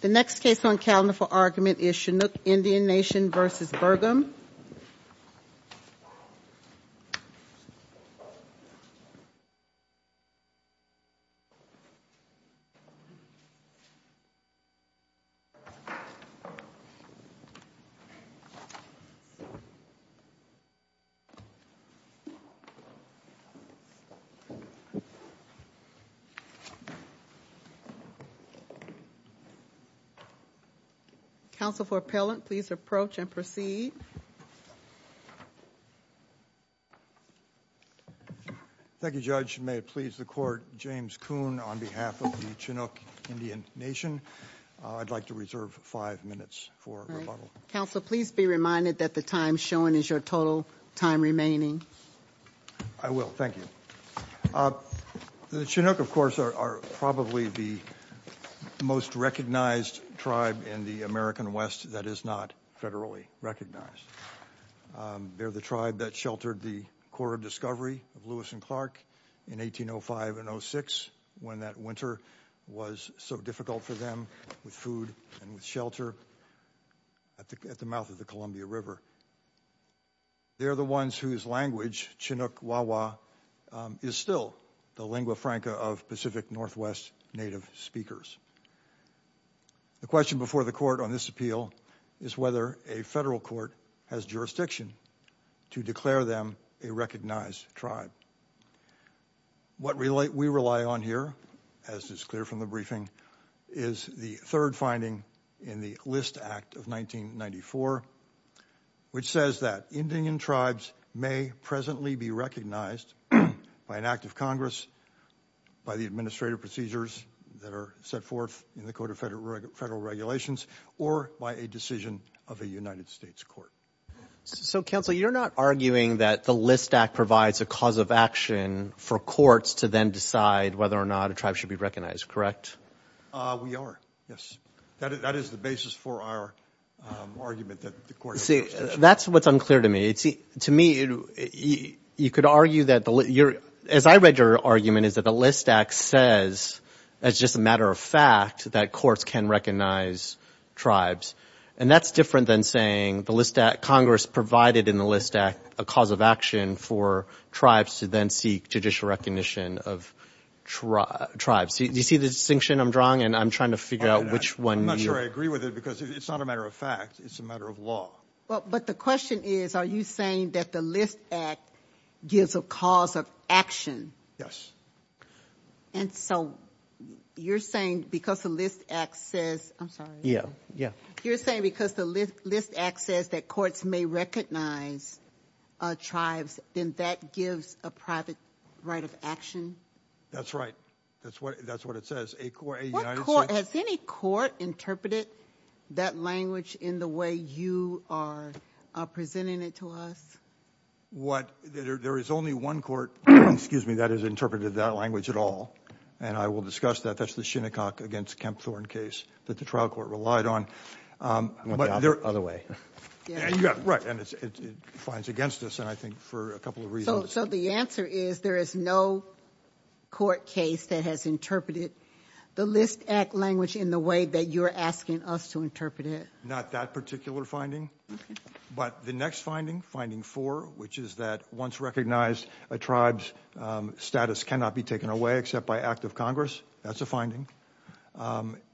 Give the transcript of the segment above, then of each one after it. The next case on calendar for argument is Chinook Indian Nation v. Burgum Counsel for appellant, please approach and proceed. Thank you, Judge. May it please the court, James Kuhn on behalf of the Chinook Indian Nation. I'd like to reserve five minutes for rebuttal. Counsel, please be reminded that the time shown is your total time remaining. I will, thank you. The Chinook, of course, are probably the most recognized tribe in the American West that is not federally recognized. They're the tribe that sheltered the Corps of Discovery of Lewis and Clark in 1805 and 06 when that winter was so difficult for them with food and shelter at the mouth of the Columbia River. They're the ones whose language, Chinook Wawa, is still the lingua franca of Pacific Northwest native speakers. The question before the court on this appeal is whether a federal court has jurisdiction to declare them a recognized tribe. What we rely on here, as is clear from the briefing, is the third finding in the List Act of 1994, which says that Indian tribes may presently be recognized by an act of Congress, by the administrative procedures that are set forth in the Code of Federal Regulations, or by a decision of a United States court. So, Counsel, you're not arguing that the List Act provides a cause of action for courts to then decide whether or not a tribe should be recognized, correct? We are, yes. That is the basis for our argument that the court has jurisdiction. See, that's what's unclear to me. To me, you could argue that the – as I read your argument, is that the List Act says, that it's just a matter of fact that courts can recognize tribes. And that's different than saying the List Act – Congress provided in the List Act a cause of action for tribes to then seek judicial recognition of tribes. Do you see the distinction I'm drawing? And I'm trying to figure out which one you – I'm not sure I agree with it, because it's not a matter of fact. It's a matter of law. But the question is, are you saying that the List Act gives a cause of action? Yes. And so, you're saying because the List Act says – I'm sorry. Yeah, yeah. You're saying because the List Act says that courts may recognize tribes, then that gives a private right of action? That's right. That's what it says. A United States – What court – has any court interpreted that language in the way you are presenting it to us? What – there is only one court – excuse me – that has interpreted that language at all. And I will discuss that. That's the Shinnecock against Kempthorne case that the trial court relied on. I went the other way. Yeah, you got it right. And it's – it defines against us, and I think for a couple of reasons. So the answer is there is no court case that has interpreted the List Act language in the way that you're asking us to interpret it? Not that particular finding. But the next finding, finding four, which is that once recognized, a tribe's status cannot be taken away except by act of Congress. That's a finding.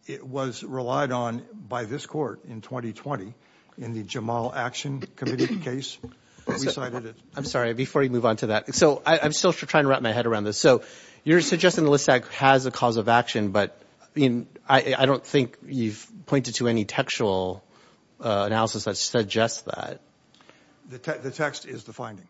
It was relied on by this court in 2020 in the Jamal Action Committee case. I'm sorry, before you move on to that. So I'm still trying to wrap my head around this. So you're suggesting the List Act has a cause of action, but I don't think you've pointed to any textual analysis that suggests that. The text is the finding.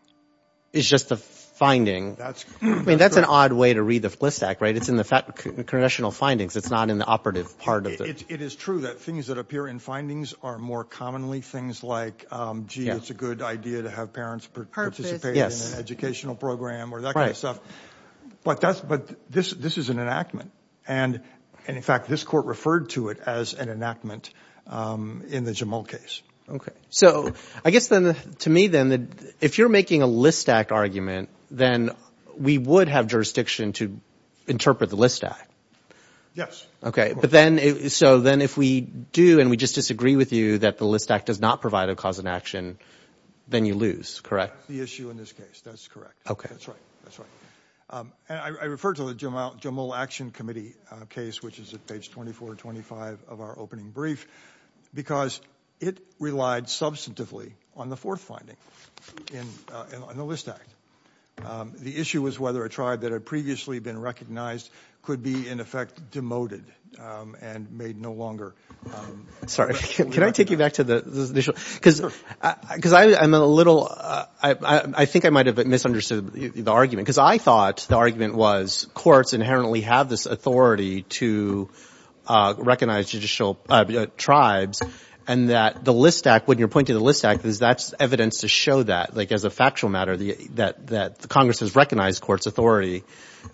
It's just the finding. I mean, that's an odd way to read the List Act, right? It's in the congressional findings. It's not in the operative part of the – It is true that things that appear in findings are more commonly things like, gee, it's a good idea to have parents participate in an educational program or that kind of stuff. But this is an enactment. And, in fact, this court referred to it as an enactment in the Jamal case. Okay. So I guess then to me then, if you're making a List Act argument, then we would have jurisdiction to interpret the List Act. Yes. Okay, but then – so then if we do and we just disagree with you that the List Act does not provide a cause of action, then you lose, correct? That's the issue in this case. That's correct. Okay. That's right. That's right. And I refer to the Jamal Action Committee case, which is at page 2425 of our opening brief, because it relied substantively on the fourth finding in the List Act. The issue was whether a tribe that had previously been recognized could be, in effect, demoted and made no longer – Sorry. Can I take you back to the initial – because I'm a little – I think I might have misunderstood the argument, because I thought the argument was courts inherently have this authority to recognize judicial tribes, and that the List Act, when you're pointing to the List Act, that's evidence to show that, like as a factual matter, that Congress has recognized courts' authority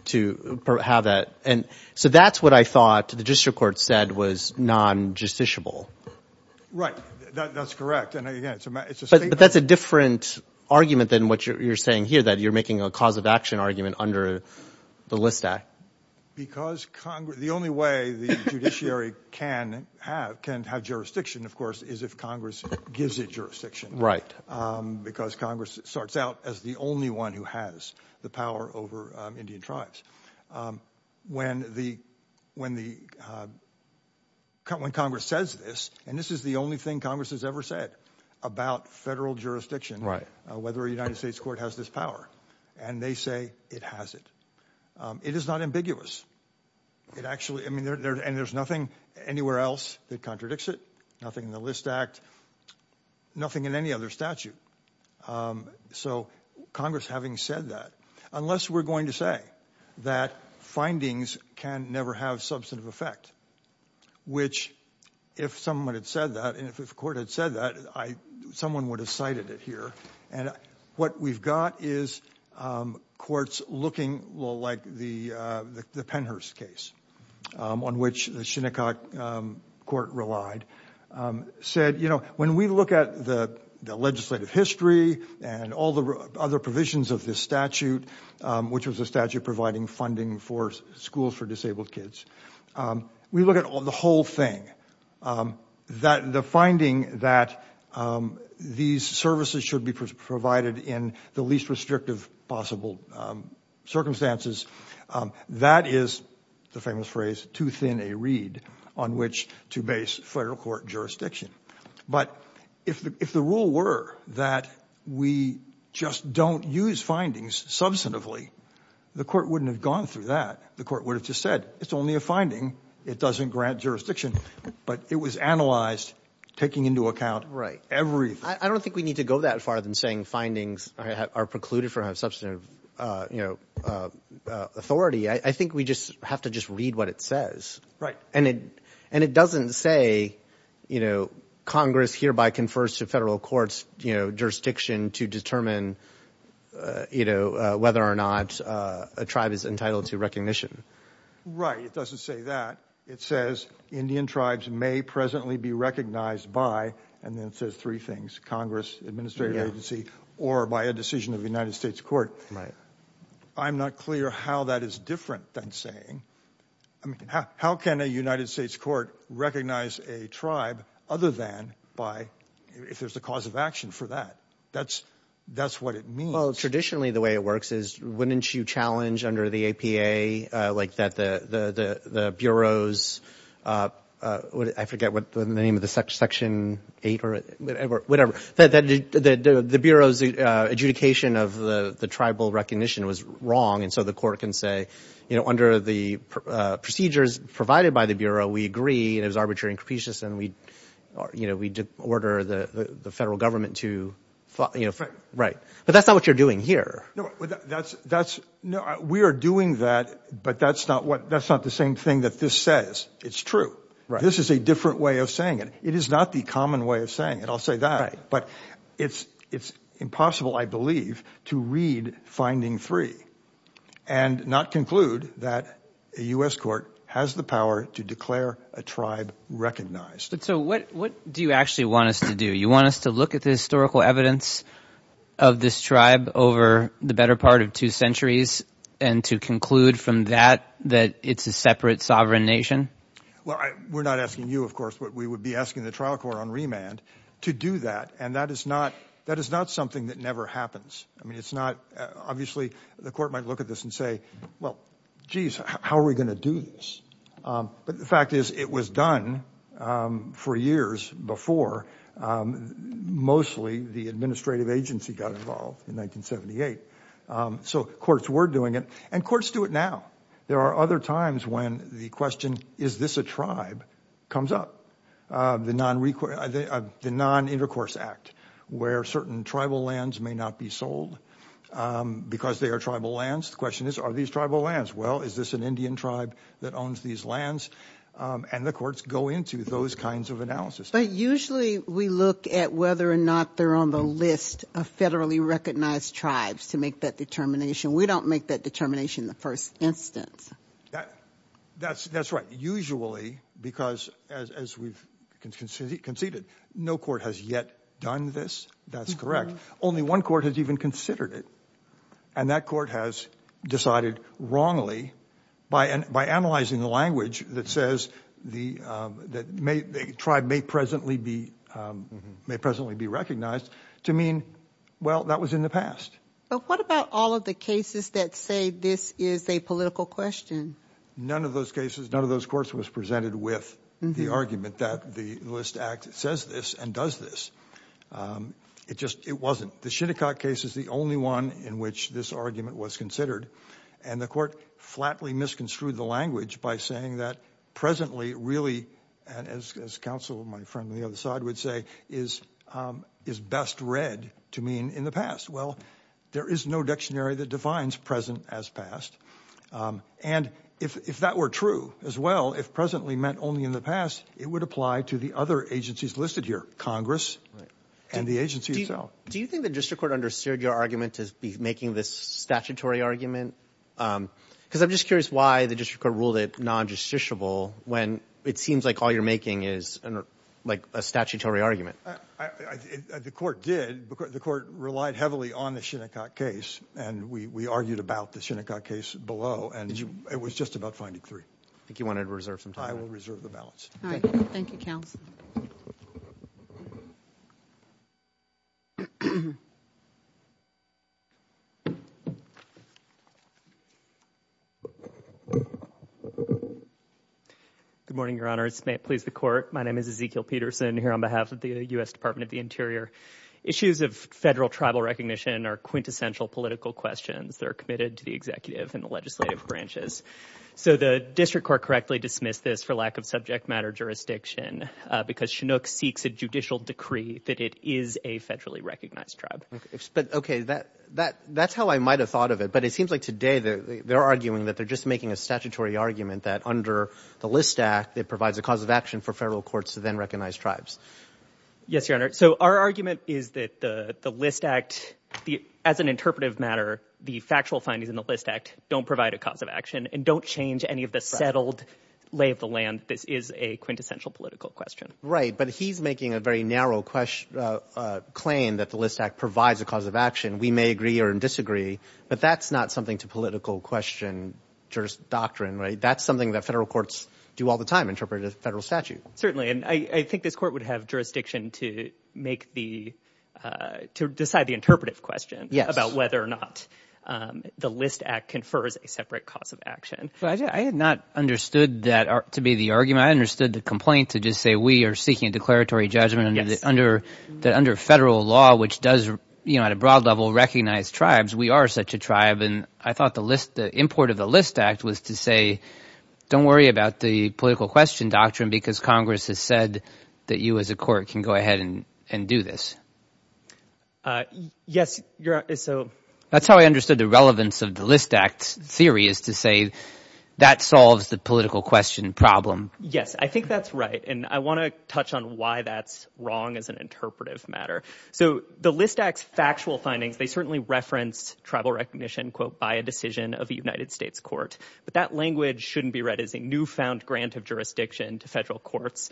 to have that. And so that's what I thought the district court said was non-justiciable. Right. That's correct. And, again, it's a – But that's a different argument than what you're saying here, that you're making a cause of action argument under the List Act. Because Congress – the only way the judiciary can have jurisdiction, of course, is if Congress gives it jurisdiction. When the – when Congress says this, and this is the only thing Congress has ever said about federal jurisdiction, whether a United States court has this power, and they say it has it, it is not ambiguous. It actually – I mean, and there's nothing anywhere else that contradicts it, nothing in the List Act, nothing in any other statute. So Congress having said that, unless we're going to say that findings can never have substantive effect, which if someone had said that, and if a court had said that, I – someone would have cited it here. And what we've got is courts looking like the Penhurst case, on which the Shinnecock court relied, said, you know, when we look at the legislative history and all the other provisions of this statute, which was a statute providing funding for schools for disabled kids, we look at the whole thing. The finding that these services should be provided in the least restrictive possible circumstances, that is the famous phrase, too thin a reed on which to base federal court jurisdiction. But if the rule were that we just don't use findings substantively, the court wouldn't have gone through that. The court would have just said it's only a finding. It doesn't grant jurisdiction. But it was analyzed, taking into account everything. I don't think we need to go that far than saying findings are precluded from substantive authority. I think we just have to just read what it says. Right. And it doesn't say, you know, Congress hereby confers to federal courts, you know, jurisdiction to determine, you know, whether or not a tribe is entitled to recognition. Right. It doesn't say that. It says Indian tribes may presently be recognized by, and then it says three things, Congress, administrative agency, or by a decision of the United States court. Right. I'm not clear how that is different than saying – I mean, how can a United States court recognize a tribe other than by – if there's a cause of action for that? That's what it means. Well, traditionally the way it works is wouldn't you challenge under the APA, like, that the Bureau's – I forget the name of the section, 8 or whatever – that the Bureau's adjudication of the tribal recognition was wrong, and so the court can say, you know, under the procedures provided by the Bureau, we agree, and it was arbitrary and capricious, and we, you know, we order the federal government to – Right. But that's not what you're doing here. That's – we are doing that, but that's not the same thing that this says. It's true. Right. This is a different way of saying it. It is not the common way of saying it, I'll say that. Right. But it's impossible, I believe, to read Finding Three and not conclude that a U.S. court has the power to declare a tribe recognized. So what do you actually want us to do? You want us to look at the historical evidence of this tribe over the better part of two centuries and to conclude from that that it's a separate sovereign nation? Well, we're not asking you, of course. We would be asking the trial court on remand to do that, and that is not something that never happens. I mean, it's not – obviously, the court might look at this and say, well, geez, how are we going to do this? But the fact is it was done for years before mostly the administrative agency got involved in 1978. So courts were doing it, and courts do it now. There are other times when the question, is this a tribe, comes up. The Non-Intercourse Act, where certain tribal lands may not be sold because they are tribal lands. The question is, are these tribal lands? Well, is this an Indian tribe that owns these lands? And the courts go into those kinds of analysis. But usually we look at whether or not they're on the list of federally recognized tribes to make that determination. We don't make that determination in the first instance. That's right. Usually, because as we've conceded, no court has yet done this. That's correct. Only one court has even considered it, and that court has decided wrongly, by analyzing the language that says the tribe may presently be recognized, to mean, well, that was in the past. But what about all of the cases that say this is a political question? None of those cases, none of those courts was presented with the argument that the List Act says this and does this. It just, it wasn't. The Shinnecock case is the only one in which this argument was considered, and the court flatly misconstrued the language by saying that presently, really, as counsel, my friend on the other side would say, is best read to mean in the past. Well, there is no dictionary that defines present as past. And if that were true as well, if presently meant only in the past, it would apply to the other agencies listed here, Congress and the agency itself. Do you think the district court understood your argument to be making this statutory argument? Because I'm just curious why the district court ruled it non-justiciable when it seems like all you're making is like a statutory argument. The court did. The court relied heavily on the Shinnecock case, and we argued about the Shinnecock case below, and it was just about finding three. I think you wanted to reserve some time. I will reserve the balance. All right. Thank you, counsel. Good morning, Your Honor. This may please the court. My name is Ezekiel Peterson here on behalf of the U.S. Department of the Interior. Issues of federal tribal recognition are quintessential political questions that are committed to the executive and the legislative branches. So the district court correctly dismissed this for lack of subject matter jurisdiction because Shinnecock seeks a judicial decree that it is a federally recognized tribe. Okay. That's how I might have thought of it, but it seems like today they're arguing that they're just making a statutory argument that under the List Act it provides a cause of action for federal courts to then recognize tribes. Yes, Your Honor. So our argument is that the List Act, as an interpretive matter, the factual findings in the List Act don't provide a cause of action and don't change any of the settled lay of the land. This is a quintessential political question. Right, but he's making a very narrow claim that the List Act provides a cause of action. We may agree or disagree, but that's not something to political question doctrine, right? That's something that federal courts do all the time, interpret a federal statute. Certainly, and I think this court would have jurisdiction to decide the interpretive question about whether or not the List Act confers a separate cause of action. I had not understood that to be the argument. I understood the complaint to just say we are seeking a declaratory judgment under federal law, which does at a broad level recognize tribes. We are such a tribe, and I thought the import of the List Act was to say don't worry about the political question doctrine because Congress has said that you as a court can go ahead and do this. Yes, Your Honor. That's how I understood the relevance of the List Act's theory is to say that solves the political question problem. Yes, I think that's right, and I want to touch on why that's wrong as an interpretive matter. So the List Act's factual findings, they certainly reference tribal recognition, quote, by a decision of a United States court, but that language shouldn't be read as a newfound grant of jurisdiction to federal courts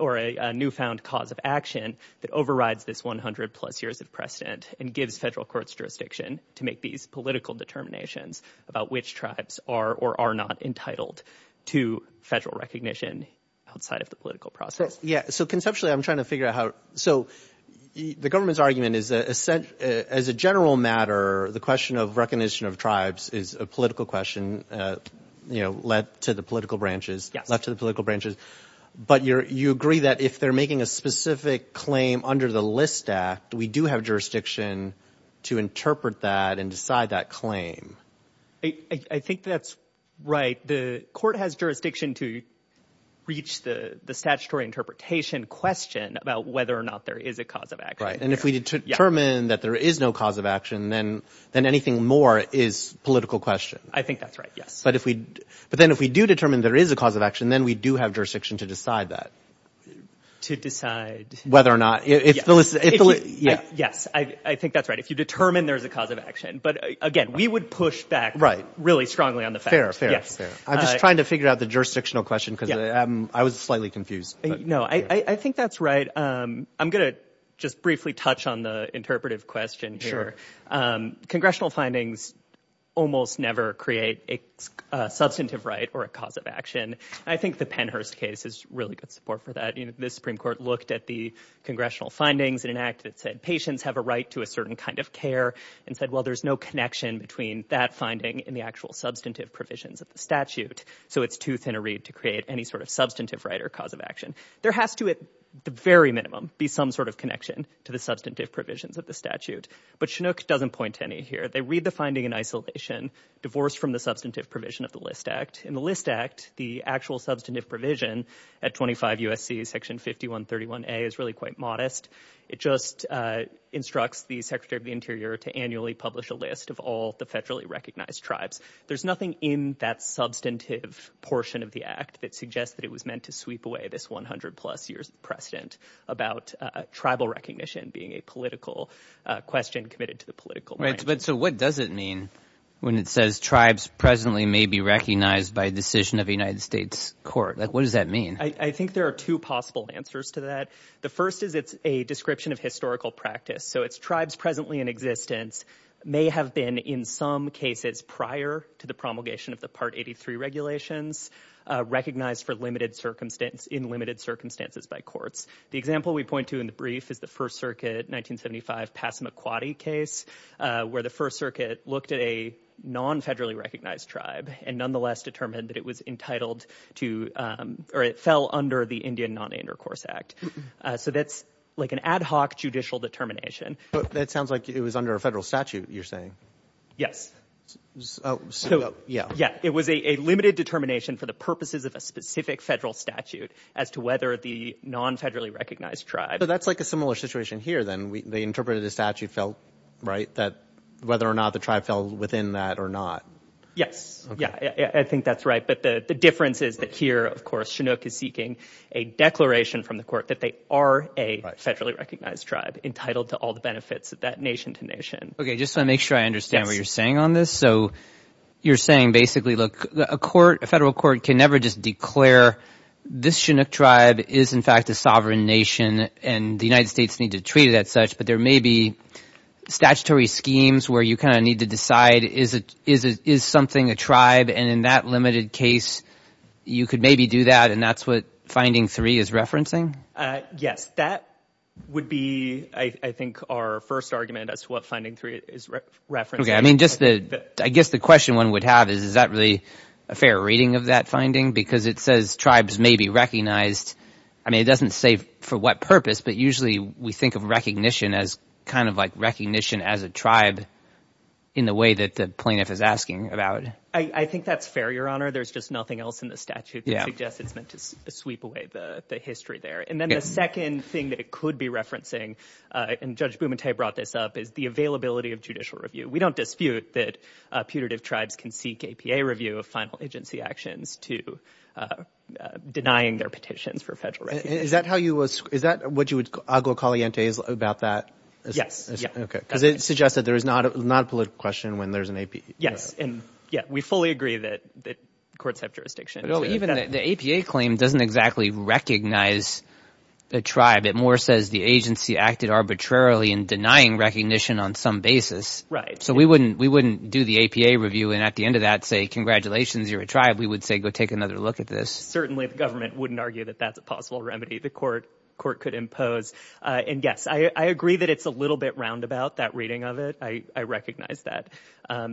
or a newfound cause of action that overrides this 100 plus years of precedent and gives federal courts jurisdiction to make these political determinations about which tribes are or are not entitled to federal recognition outside of the political process. Yes, so conceptually I'm trying to figure out how. So the government's argument is as a general matter, the question of recognition of tribes is a political question, you know, left to the political branches, left to the political branches, but you agree that if they're making a specific claim under the List Act, we do have jurisdiction to interpret that and decide that claim. I think that's right. The court has jurisdiction to reach the statutory interpretation question about whether or not there is a cause of action. Right, and if we determine that there is no cause of action, then anything more is political question. I think that's right, yes. But then if we do determine there is a cause of action, then we do have jurisdiction to decide that. To decide. Whether or not. Yes, I think that's right. If you determine there is a cause of action. But again, we would push back really strongly on the fact. Fair, fair, fair. I'm just trying to figure out the jurisdictional question because I was slightly confused. No, I think that's right. I'm going to just briefly touch on the interpretive question here. Congressional findings almost never create a substantive right or a cause of action. I think the Pennhurst case is really good support for that. This Supreme Court looked at the congressional findings in an act that said patients have a right to a certain kind of care and said, well, there's no connection between that finding and the actual substantive provisions of the statute. So it's too thin a reed to create any sort of substantive right or cause of action. There has to, at the very minimum, be some sort of connection to the substantive provisions of the statute. But Chinook doesn't point to any here. They read the finding in isolation, divorced from the substantive provision of the List Act. In the List Act, the actual substantive provision at 25 U.S.C., Section 5131A, is really quite modest. It just instructs the Secretary of the Interior to annually publish a list of all the federally recognized tribes. There's nothing in that substantive portion of the act that suggests that it was meant to sweep away this 100-plus years precedent about tribal recognition being a political question committed to the political branch. But so what does it mean when it says tribes presently may be recognized by decision of a United States court? What does that mean? I think there are two possible answers to that. The first is it's a description of historical practice. So it's tribes presently in existence may have been in some cases prior to the promulgation of the Part 83 regulations recognized in limited circumstances by courts. The example we point to in the brief is the First Circuit 1975 Passamaquoddy case, where the First Circuit looked at a non-federally recognized tribe and nonetheless determined that it was entitled to or it fell under the Indian Non-Intercourse Act. So that's like an ad hoc judicial determination. But that sounds like it was under a federal statute, you're saying. Yes. So, yeah, it was a limited determination for the purposes of a specific federal statute as to whether the non-federally recognized tribe. So that's like a similar situation here then. They interpreted the statute, right, that whether or not the tribe fell within that or not. Yes. I think that's right. But the difference is that here, of course, Chinook is seeking a declaration from the court that they are a federally recognized tribe entitled to all the benefits of that nation to nation. Okay, just to make sure I understand what you're saying on this. So you're saying basically, look, a federal court can never just declare this Chinook tribe is in fact a sovereign nation and the United States needs to treat it as such, but there may be statutory schemes where you kind of need to decide is something a tribe, and in that limited case you could maybe do that, and that's what Finding Three is referencing? Yes. That would be, I think, our first argument as to what Finding Three is referencing. Okay. I mean, I guess the question one would have is is that really a fair reading of that finding? Because it says tribes may be recognized. I mean, it doesn't say for what purpose, but usually we think of recognition as kind of like recognition as a tribe in the way that the plaintiff is asking about. I think that's fair, Your Honor. There's just nothing else in the statute that suggests it's meant to sweep away the history there. And then the second thing that it could be referencing, and Judge Bumate brought this up, is the availability of judicial review. We don't dispute that putative tribes can seek APA review of final agency actions to denying their petitions for federal review. Is that how you would – is that what you would – agua caliente is about that? Yes. Okay, because it suggests that there is not a political question when there's an APA. Yes, and, yeah, we fully agree that courts have jurisdiction. Even the APA claim doesn't exactly recognize a tribe. It more says the agency acted arbitrarily in denying recognition on some basis. Right. So we wouldn't do the APA review and at the end of that say congratulations, you're a tribe. We would say go take another look at this. Certainly the government wouldn't argue that that's a possible remedy the court could impose. And, yes, I agree that it's a little bit roundabout, that reading of it. I recognize that.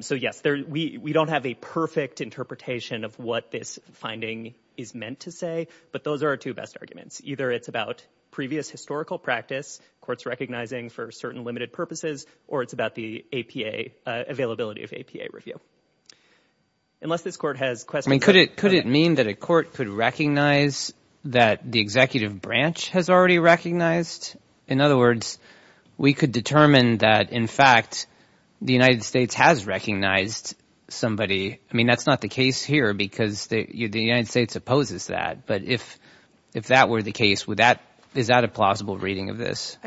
So, yes, we don't have a perfect interpretation of what this finding is meant to say, but those are our two best arguments. Either it's about previous historical practice, courts recognizing for certain limited purposes, or it's about the APA – availability of APA review. Unless this court has questions. Could it mean that a court could recognize that the executive branch has already recognized? In other words, we could determine that, in fact, the United States has recognized somebody. I mean, that's not the case here because the United States opposes that. But if that were the case, is that a plausible reading of this?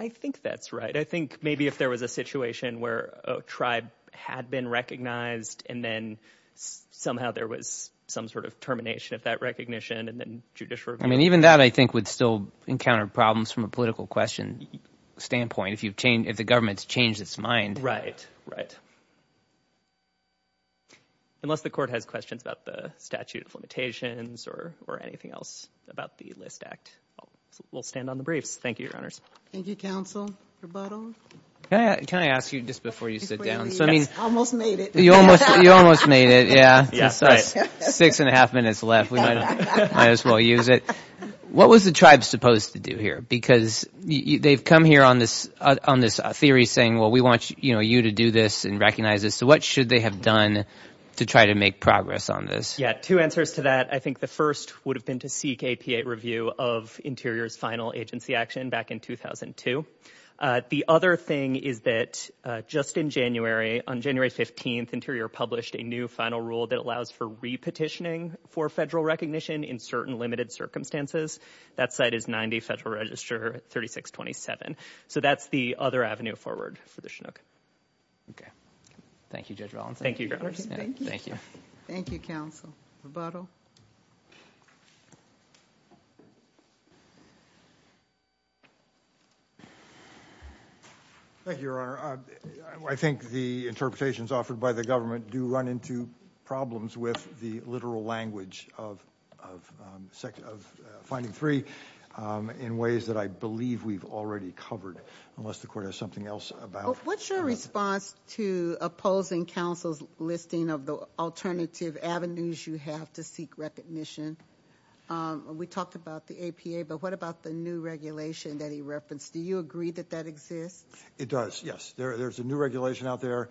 I think that's right. I think maybe if there was a situation where a tribe had been recognized and then somehow there was some sort of termination of that recognition and then judicial review. I mean, even that, I think, would still encounter problems from a political question standpoint if the government's changed its mind. Right, right. Unless the court has questions about the statute of limitations or anything else about the List Act, we'll stand on the briefs. Thank you, Your Honors. Thank you, counsel. Rebuttal? Can I ask you just before you sit down? I almost made it. You almost made it, yeah. Six and a half minutes left. We might as well use it. What was the tribe supposed to do here? Because they've come here on this theory saying, well, we want you to do this and recognize this. So what should they have done to try to make progress on this? Two answers to that. I think the first would have been to seek APA review of Interior's final agency action back in 2002. The other thing is that just in January, on January 15th, Interior published a new final rule that allows for re-petitioning for federal recognition in certain limited circumstances. That site is 90 Federal Register 3627. So that's the other avenue forward for the Chinook. Thank you, Judge Valenzuela. Thank you, Your Honors. Thank you. Thank you, counsel. Rebuttal? Thank you, Your Honor. I think the interpretations offered by the government do run into problems with the literal language of finding three in ways that I believe we've already covered. Unless the court has something else about- What's your response to opposing counsel's listing of the alternative avenues you have to seek recognition? We talked about the APA, but what about the new regulation that he referenced? Do you agree that that exists? It does, yes. There's a new regulation out there.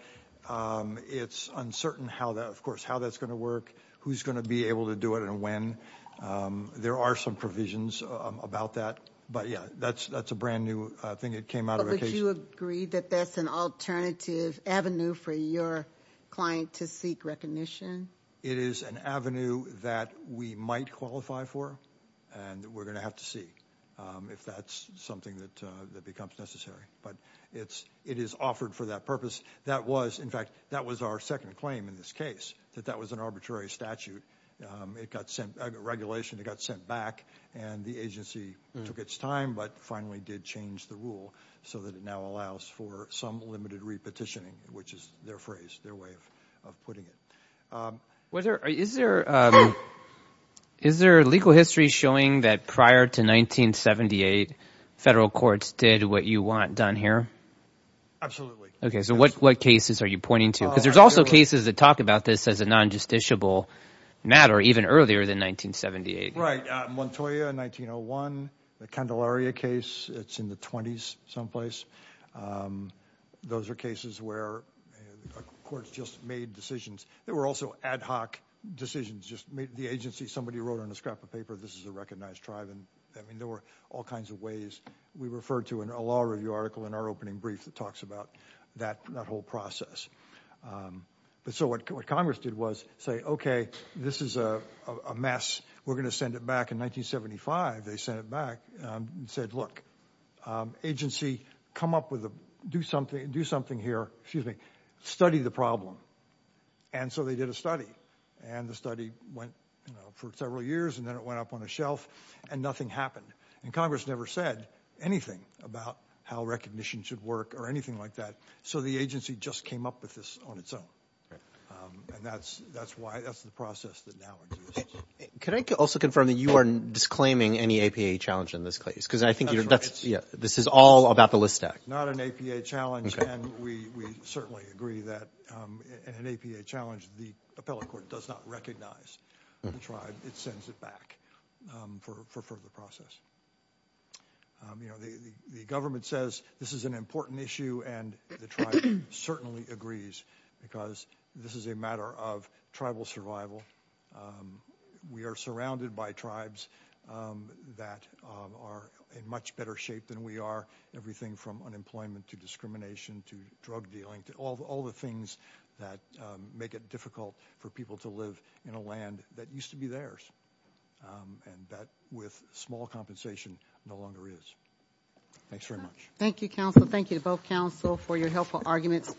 It's uncertain, of course, how that's going to work, who's going to be able to do it and when. There are some provisions about that, but yeah, that's a brand new thing that came out of occasion. But would you agree that that's an alternative avenue for your client to seek recognition? It is an avenue that we might qualify for, and we're going to have to see if that's something that becomes necessary. But it is offered for that purpose. That was, in fact, that was our second claim in this case, that that was an arbitrary statute. It got sent, regulation, it got sent back, and the agency took its time but finally did change the rule so that it now allows for some limited repetitioning, which is their phrase, their way of putting it. Is there legal history showing that prior to 1978, federal courts did what you want done here? Absolutely. Okay, so what cases are you pointing to? Because there's also cases that talk about this as a non-justiciable matter even earlier than 1978. Right, Montoya in 1901, the Candelaria case, it's in the 20s someplace. Those are cases where courts just made decisions. There were also ad hoc decisions. Just the agency, somebody wrote on a scrap of paper, this is a recognized tribe. I mean, there were all kinds of ways. We referred to a law review article in our opening brief that talks about that whole process. But so what Congress did was say, okay, this is a mess. We're going to send it back. In 1975, they sent it back and said, look, agency, come up with a, do something here, study the problem. And so they did a study. And the study went for several years, and then it went up on the shelf, and nothing happened. And Congress never said anything about how recognition should work or anything like that. So the agency just came up with this on its own. And that's why, that's the process that now exists. Can I also confirm that you are disclaiming any APA challenge in this case? Because I think this is all about the list act. Not an APA challenge, and we certainly agree that an APA challenge, the appellate court does not recognize the tribe. It sends it back for further process. You know, the government says this is an important issue, and the tribe certainly agrees. Because this is a matter of tribal survival. We are surrounded by tribes that are in much better shape than we are. Everything from unemployment to discrimination to drug dealing, to all the things that make it difficult for people to live in a land that used to be theirs. And that, with small compensation, no longer is. Thanks very much. Thank you, counsel. Thank you to both counsel for your helpful arguments.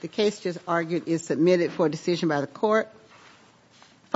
The case just argued is submitted for decision by the court.